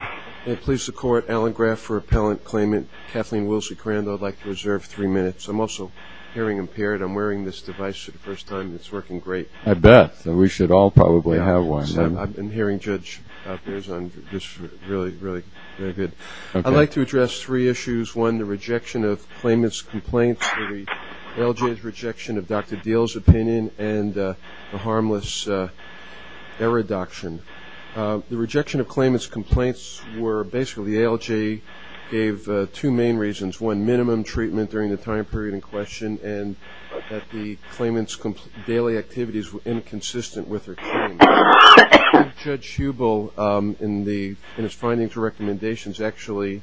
I'm also hearing impaired. I'm wearing this device for the first time. It's working great. I bet. So we should all probably have one. I'm hearing Judge Perez on this really, really good. I'd like to address three issues. One, the rejection of claimant's complaints, the LJ's rejection of Dr. Deal's opinion, and the harmless error adoption. The ALJ gave two main reasons. One, minimum treatment during the time period in question, and that the claimant's daily activities were inconsistent with her claim. Judge Hubel, in his findings and recommendations, actually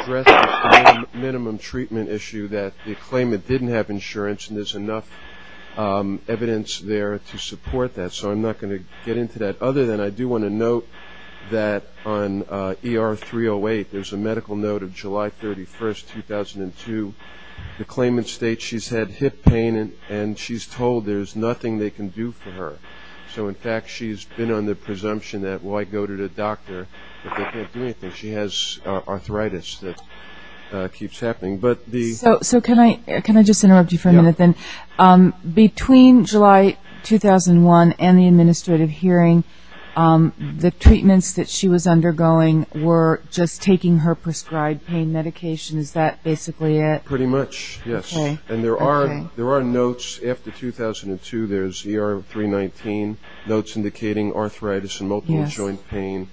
addressed the same minimum treatment issue, that the claimant didn't have insurance and there's enough evidence there to support that. So I'm not going to get into that. Other than I do want to note that on ER 308, there's a medical note of July 31st, 2002. The claimant states she's had hip pain and she's told there's nothing they can do for her. So in fact, she's been on the presumption that, well, I go to the doctor, but they can't do anything. She has arthritis that keeps happening. So can I just interrupt you for a minute, then? Between July 2001 and the administrative hearing, the treatments that she was undergoing were just taking her prescribed pain medication. Is that basically it? Pretty much, yes. And there are notes. After 2002, there's ER 319, notes indicating arthritis and multiple joint pain,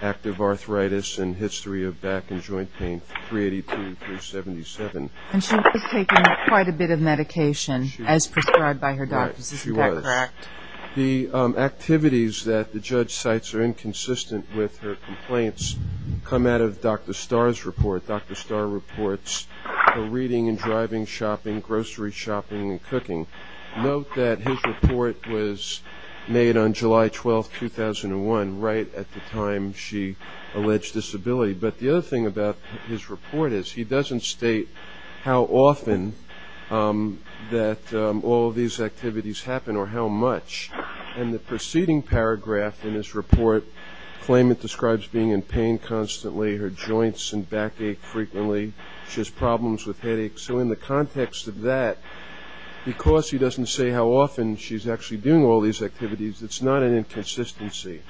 active arthritis and history of back and joint pain, 382-377. And she was taking quite a bit of medication as prescribed by her doctors. Is that correct? She was. The activities that the judge cites are inconsistent with her complaints come out of Dr. Starr's report. Dr. Starr reports her reading and driving, shopping, grocery shopping, and cooking. Note that his report was made on July 12, 2001, right at the time she alleged disability. But the other thing about his report is he doesn't state how often that all these activities happen or how much. And the preceding paragraph in his report claimed it describes being in pain constantly, her joints and back ache frequently, she has problems with headaches. So in the context of that, because he doesn't say how often she's actually doing all these activities, it's not an inconsistency.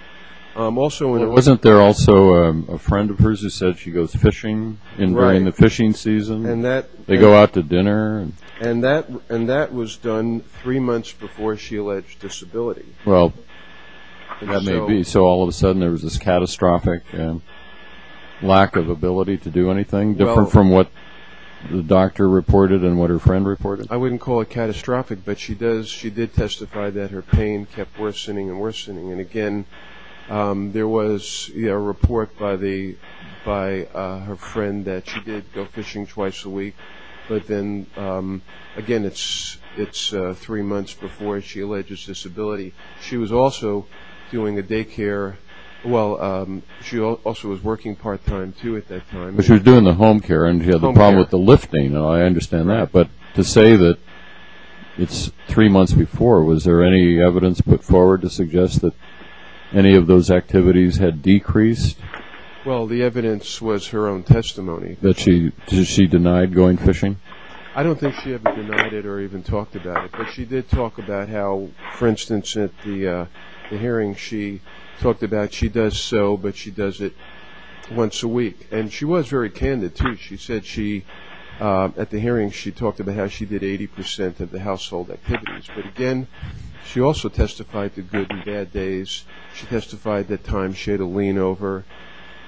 Wasn't there also a friend of hers who said she goes fishing during the fishing season? They go out to dinner. And that was done three months before she alleged disability. Well, that may be. So all of a sudden there was this catastrophic lack of ability to do anything, different from what the doctor reported and what her friend reported? I wouldn't call it catastrophic, but she did testify that her pain kept worsening and worsening. And, again, there was a report by her friend that she did go fishing twice a week. But then, again, it's three months before she alleged disability. She was also doing a daycare. Well, she also was working part-time, too, at that time. She was doing the home care, and she had a problem with the lifting. I understand that. But to say that it's three months before, was there any evidence put forward to suggest that any of those activities had decreased? Well, the evidence was her own testimony. Did she deny going fishing? I don't think she ever denied it or even talked about it. But she did talk about how, for instance, at the hearing, she talked about she does so, but she does it once a week. And she was very candid, too. She said she, at the hearing, she talked about how she did 80% of the household activities. But, again, she also testified to good and bad days. She testified that times she had a lean-over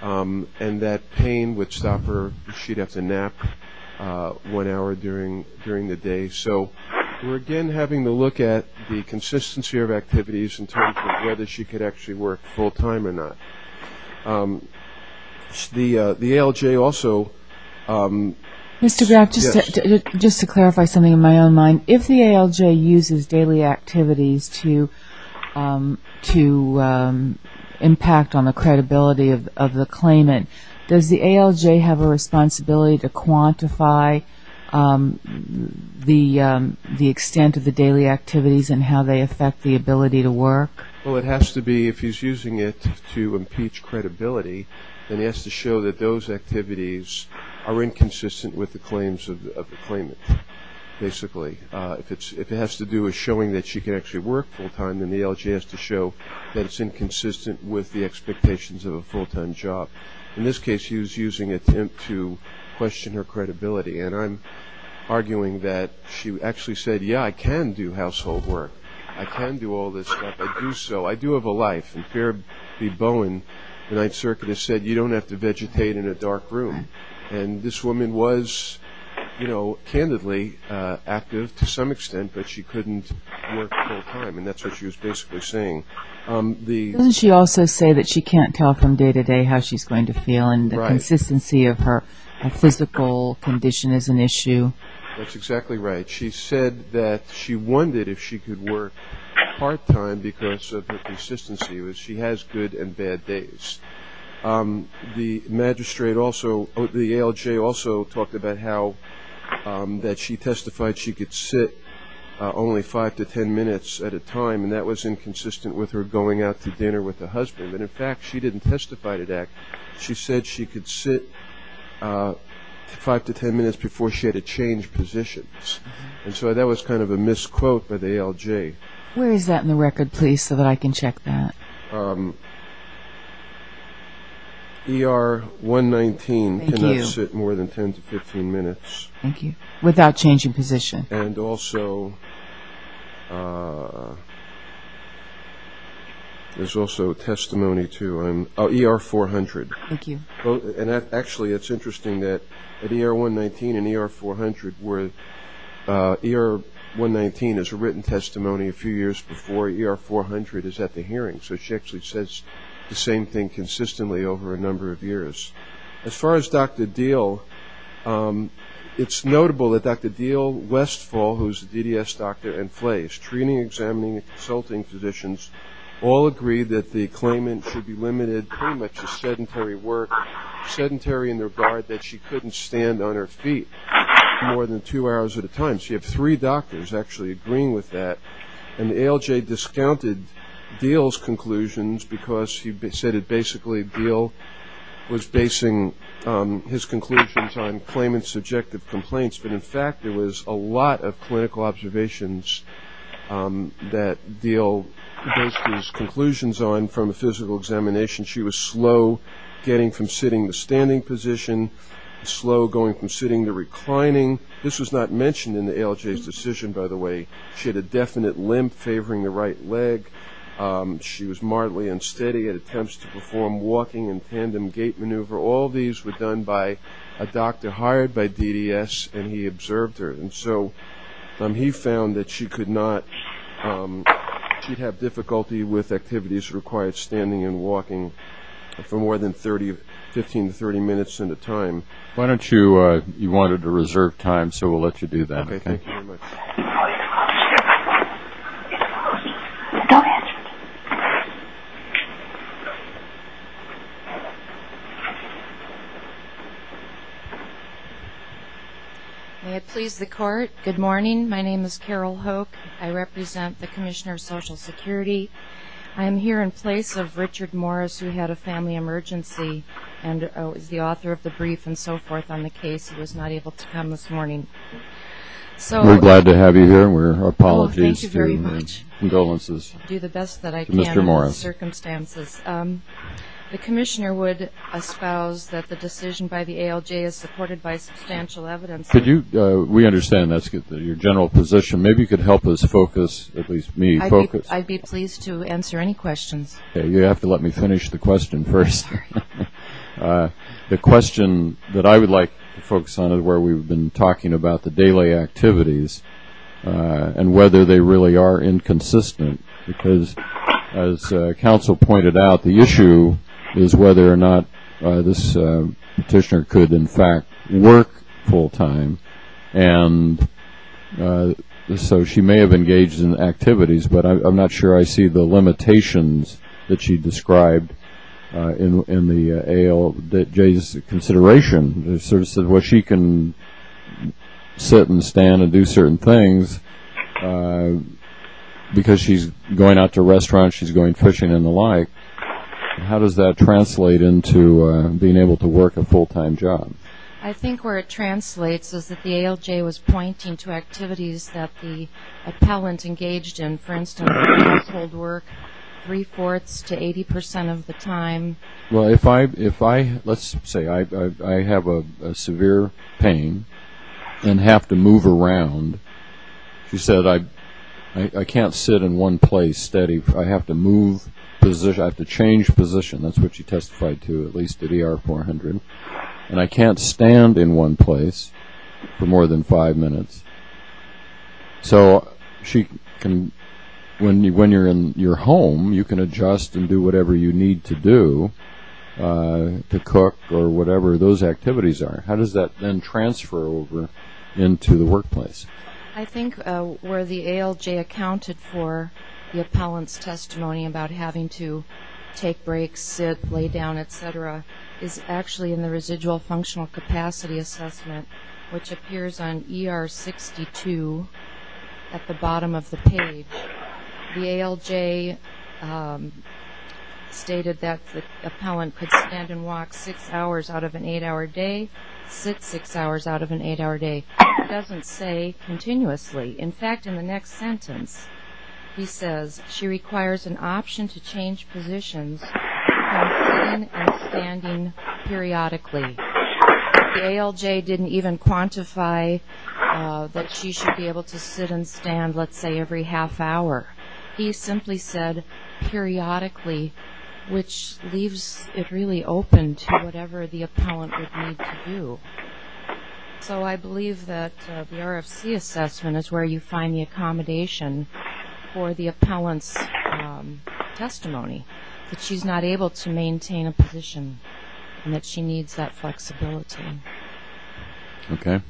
and that pain would stop her. She'd have to nap one hour during the day. So we're, again, having to look at the consistency of activities in terms of whether she could actually work full-time or not. The ALJ also ---- Mr. Graff, just to clarify something in my own mind, if the ALJ uses daily activities to impact on the credibility of the claimant, does the ALJ have a responsibility to quantify the extent of the daily activities and how they affect the ability to work? Well, it has to be, if he's using it to impeach credibility, then he has to show that those activities are inconsistent with the claims of the claimant, basically. If it has to do with showing that she can actually work full-time, then the ALJ has to show that it's inconsistent with the expectations of a full-time job. In this case, he was using it to question her credibility. And I'm arguing that she actually said, yeah, I can do household work. I can do all this stuff. I do so. I do have a life. And Farrah B. Bowen, the Ninth Circuit, has said you don't have to vegetate in a dark room. And this woman was, you know, candidly active to some extent, but she couldn't work full-time, and that's what she was basically saying. Doesn't she also say that she can't tell from day to day how she's going to feel and the consistency of her physical condition is an issue? That's exactly right. She said that she wondered if she could work part-time because of her consistency. She has good and bad days. The magistrate also, the ALJ also, talked about how that she testified she could sit only five to ten minutes at a time, and that was inconsistent with her going out to dinner with her husband. And, in fact, she didn't testify to that. She said she could sit five to ten minutes before she had to change positions. And so that was kind of a misquote by the ALJ. Where is that in the record, please, so that I can check that? ER 119 cannot sit more than 10 to 15 minutes. Thank you. Without changing position. And also there's also testimony to ER 400. Thank you. And, actually, it's interesting that at ER 119 and ER 400, where ER 119 is a written testimony a few years before, ER 400 is at the hearing. So she actually says the same thing consistently over a number of years. As far as Dr. Diehl, it's notable that Dr. Diehl, Westfall, who is a DDS doctor, and Flace, treating, examining, and consulting physicians, all agree that the claimant should be limited pretty much to sedentary work, sedentary in the regard that she couldn't stand on her feet more than two hours at a time. So you have three doctors actually agreeing with that. And the ALJ discounted Diehl's conclusions because he said that basically Diehl was basing his conclusions on claimant's subjective complaints. But, in fact, there was a lot of clinical observations that Diehl based his conclusions on. From a physical examination, she was slow getting from sitting to standing position, slow going from sitting to reclining. This was not mentioned in the ALJ's decision, by the way. She had a definite limp favoring the right leg. She was mildly unsteady at attempts to perform walking and tandem gait maneuver. All these were done by a doctor hired by DDS, and he observed her. And so he found that she could not, she'd have difficulty with activities that required standing and walking for more than 15 to 30 minutes at a time. Why don't you, you wanted to reserve time, so we'll let you do that. Okay, thank you very much. Go ahead. May it please the court. Good morning. My name is Carol Hoke. I represent the Commissioner of Social Security. I am here in place of Richard Morris, who had a family emergency and is the author of the brief and so forth on the case. He was not able to come this morning. We're glad to have you here. We're apologies. Thank you very much. Condolences. I'll do the best that I can in these circumstances. The Commissioner would espouse that the decision by the ALJ is supported by substantial evidence. We understand that's your general position. Maybe you could help us focus, at least me, focus. I'd be pleased to answer any questions. You have to let me finish the question first. The question that I would like to focus on is where we've been talking about the daily activities and whether they really are inconsistent because, as counsel pointed out, the issue is whether or not this petitioner could, in fact, work full time. And so she may have engaged in activities, but I'm not sure I see the limitations that she described in the ALJ's consideration. She can sit and stand and do certain things because she's going out to restaurants, she's going fishing and the like. How does that translate into being able to work a full-time job? I think where it translates is that the ALJ was pointing to activities that the appellant engaged in, for instance, work three-fourths to 80 percent of the time. Well, let's say I have a severe pain and have to move around. She said, I can't sit in one place steady. I have to move, I have to change position. That's what she testified to, at least at ER 400. And I can't stand in one place for more than five minutes. So when you're in your home, you can adjust and do whatever you need to do to cook or whatever those activities are. How does that then transfer over into the workplace? I think where the ALJ accounted for the appellant's testimony about having to take breaks, sit, lay down, et cetera, is actually in the residual functional capacity assessment, which appears on ER 62 at the bottom of the page. The ALJ stated that the appellant could stand and walk six hours out of an eight-hour day, sit six hours out of an eight-hour day. It doesn't say continuously. In fact, in the next sentence, he says, she requires an option to change positions from sitting and standing periodically. The ALJ didn't even quantify that she should be able to sit and stand, let's say, every half hour. He simply said periodically, which leaves it really open to whatever the appellant would need to do. So I believe that the RFC assessment is where you find the accommodation for the appellant's testimony, that she's not able to maintain a position and that she needs that flexibility. Okay.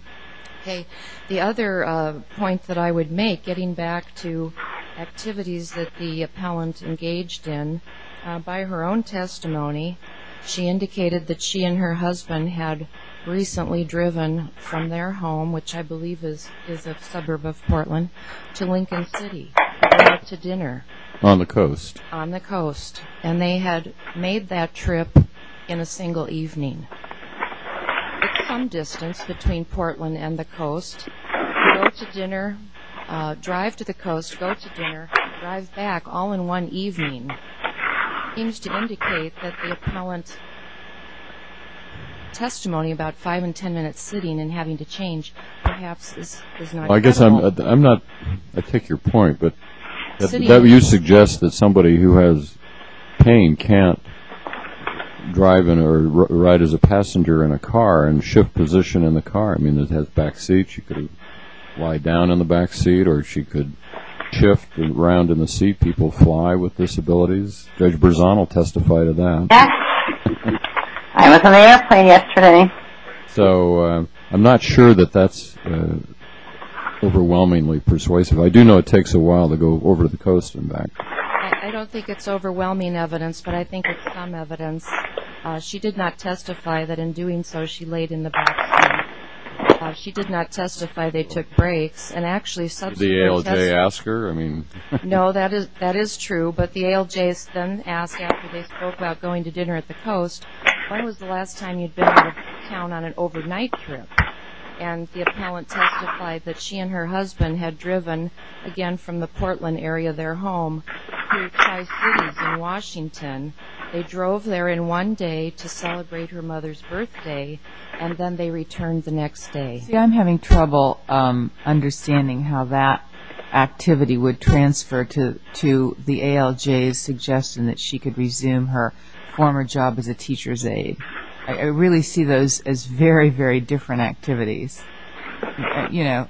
Okay. The other point that I would make, getting back to activities that the appellant engaged in, by her own testimony, she indicated that she and her husband had recently driven from their home, which I believe is a suburb of Portland, to Lincoln City to dinner. On the coast. On the coast. And they had made that trip in a single evening. It's some distance between Portland and the coast. Go to dinner, drive to the coast, go to dinner, drive back all in one evening, seems to indicate that the appellant's testimony about five and ten minutes sitting and having to change perhaps is not correct. I guess I'm not going to take your point, but that would suggest that somebody who has pain can't drive or ride as a passenger in a car and shift position in the car. I mean, it has back seats. She could lie down in the back seat or she could shift and round in the seat. People fly with disabilities. Judge Berzon will testify to that. Yes. I was on the airplane yesterday. So I'm not sure that that's overwhelmingly persuasive. I do know it takes a while to go over the coast and back. I don't think it's overwhelming evidence, but I think it's some evidence. She did not testify that in doing so she laid in the back seat. She did not testify they took breaks and actually subsequently testified. Did the ALJ ask her? No, that is true, but the ALJs then asked after they spoke about going to dinner at the coast, when was the last time you'd been out of town on an overnight trip? And the appellant testified that she and her husband had driven, again, from the Portland area of their home through Tri-Cities in Washington. They drove there in one day to celebrate her mother's birthday, and then they returned the next day. I'm having trouble understanding how that activity would transfer to the ALJs suggesting that she could resume her former job as a teacher's aide. I really see those as very, very different activities. You know,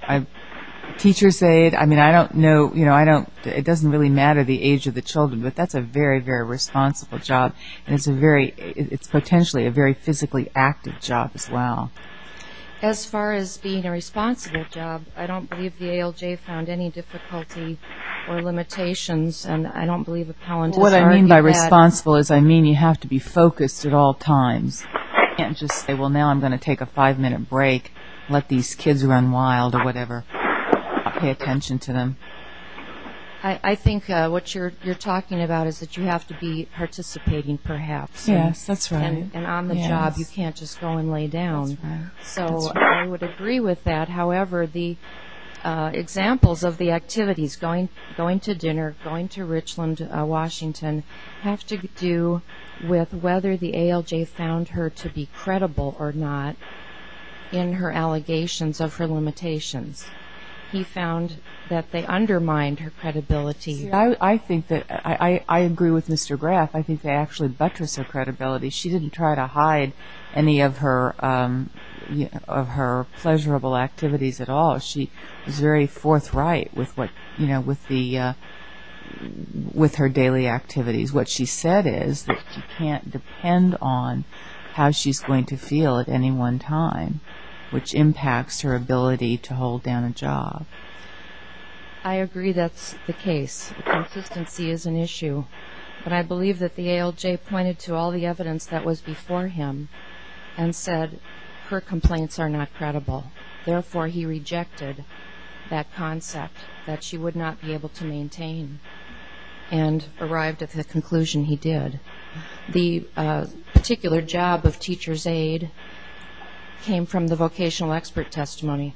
teacher's aide, I mean, I don't know, you know, it doesn't really matter the age of the children, but that's a very, very responsible job, and it's a very, it's potentially a very physically active job as well. As far as being a responsible job, I don't believe the ALJ found any difficulty or limitations, and I don't believe appellants are any bad. What I mean by responsible is I mean you have to be focused at all times. You can't just say, well, now I'm going to take a five-minute break, let these kids run wild or whatever, pay attention to them. I think what you're talking about is that you have to be participating perhaps. Yes, that's right. And on the job you can't just go and lay down. That's right. So I would agree with that. However, the examples of the activities, going to dinner, going to Richland, Washington, have to do with whether the ALJ found her to be credible or not in her allegations of her limitations. He found that they undermined her credibility. I think that, I agree with Mr. Graff. I think they actually buttressed her credibility. She didn't try to hide any of her pleasurable activities at all. She was very forthright with her daily activities. What she said is that she can't depend on how she's going to feel at any one time, which impacts her ability to hold down a job. I agree that's the case. Consistency is an issue. But I believe that the ALJ pointed to all the evidence that was before him and said her complaints are not credible. Therefore, he rejected that concept that she would not be able to maintain and arrived at the conclusion he did. The particular job of teacher's aide came from the vocational expert testimony.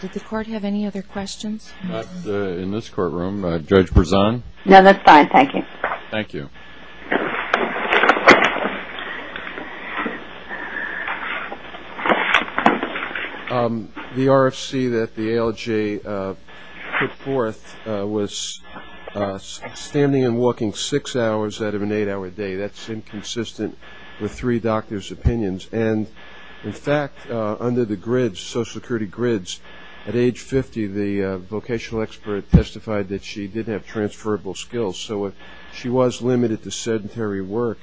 Did the Court have any other questions? Not in this courtroom. Judge Berzon? No, that's fine. Thank you. Thank you. Thank you. The RFC that the ALJ put forth was standing and walking six hours out of an eight-hour day. That's inconsistent with three doctors' opinions. And, in fact, under the Social Security grids, at age 50, the vocational expert testified that she did have transferable skills. So if she was limited to sedentary work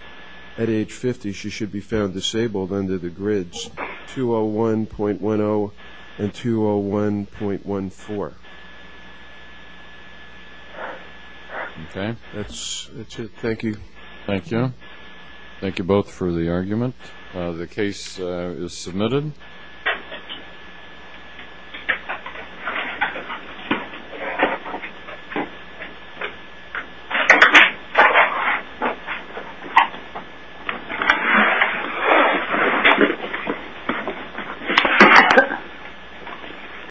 at age 50, she should be found disabled under the grids 201.10 and 201.14. Okay. That's it. Thank you. Thank you. Thank you both for the argument. The case is submitted.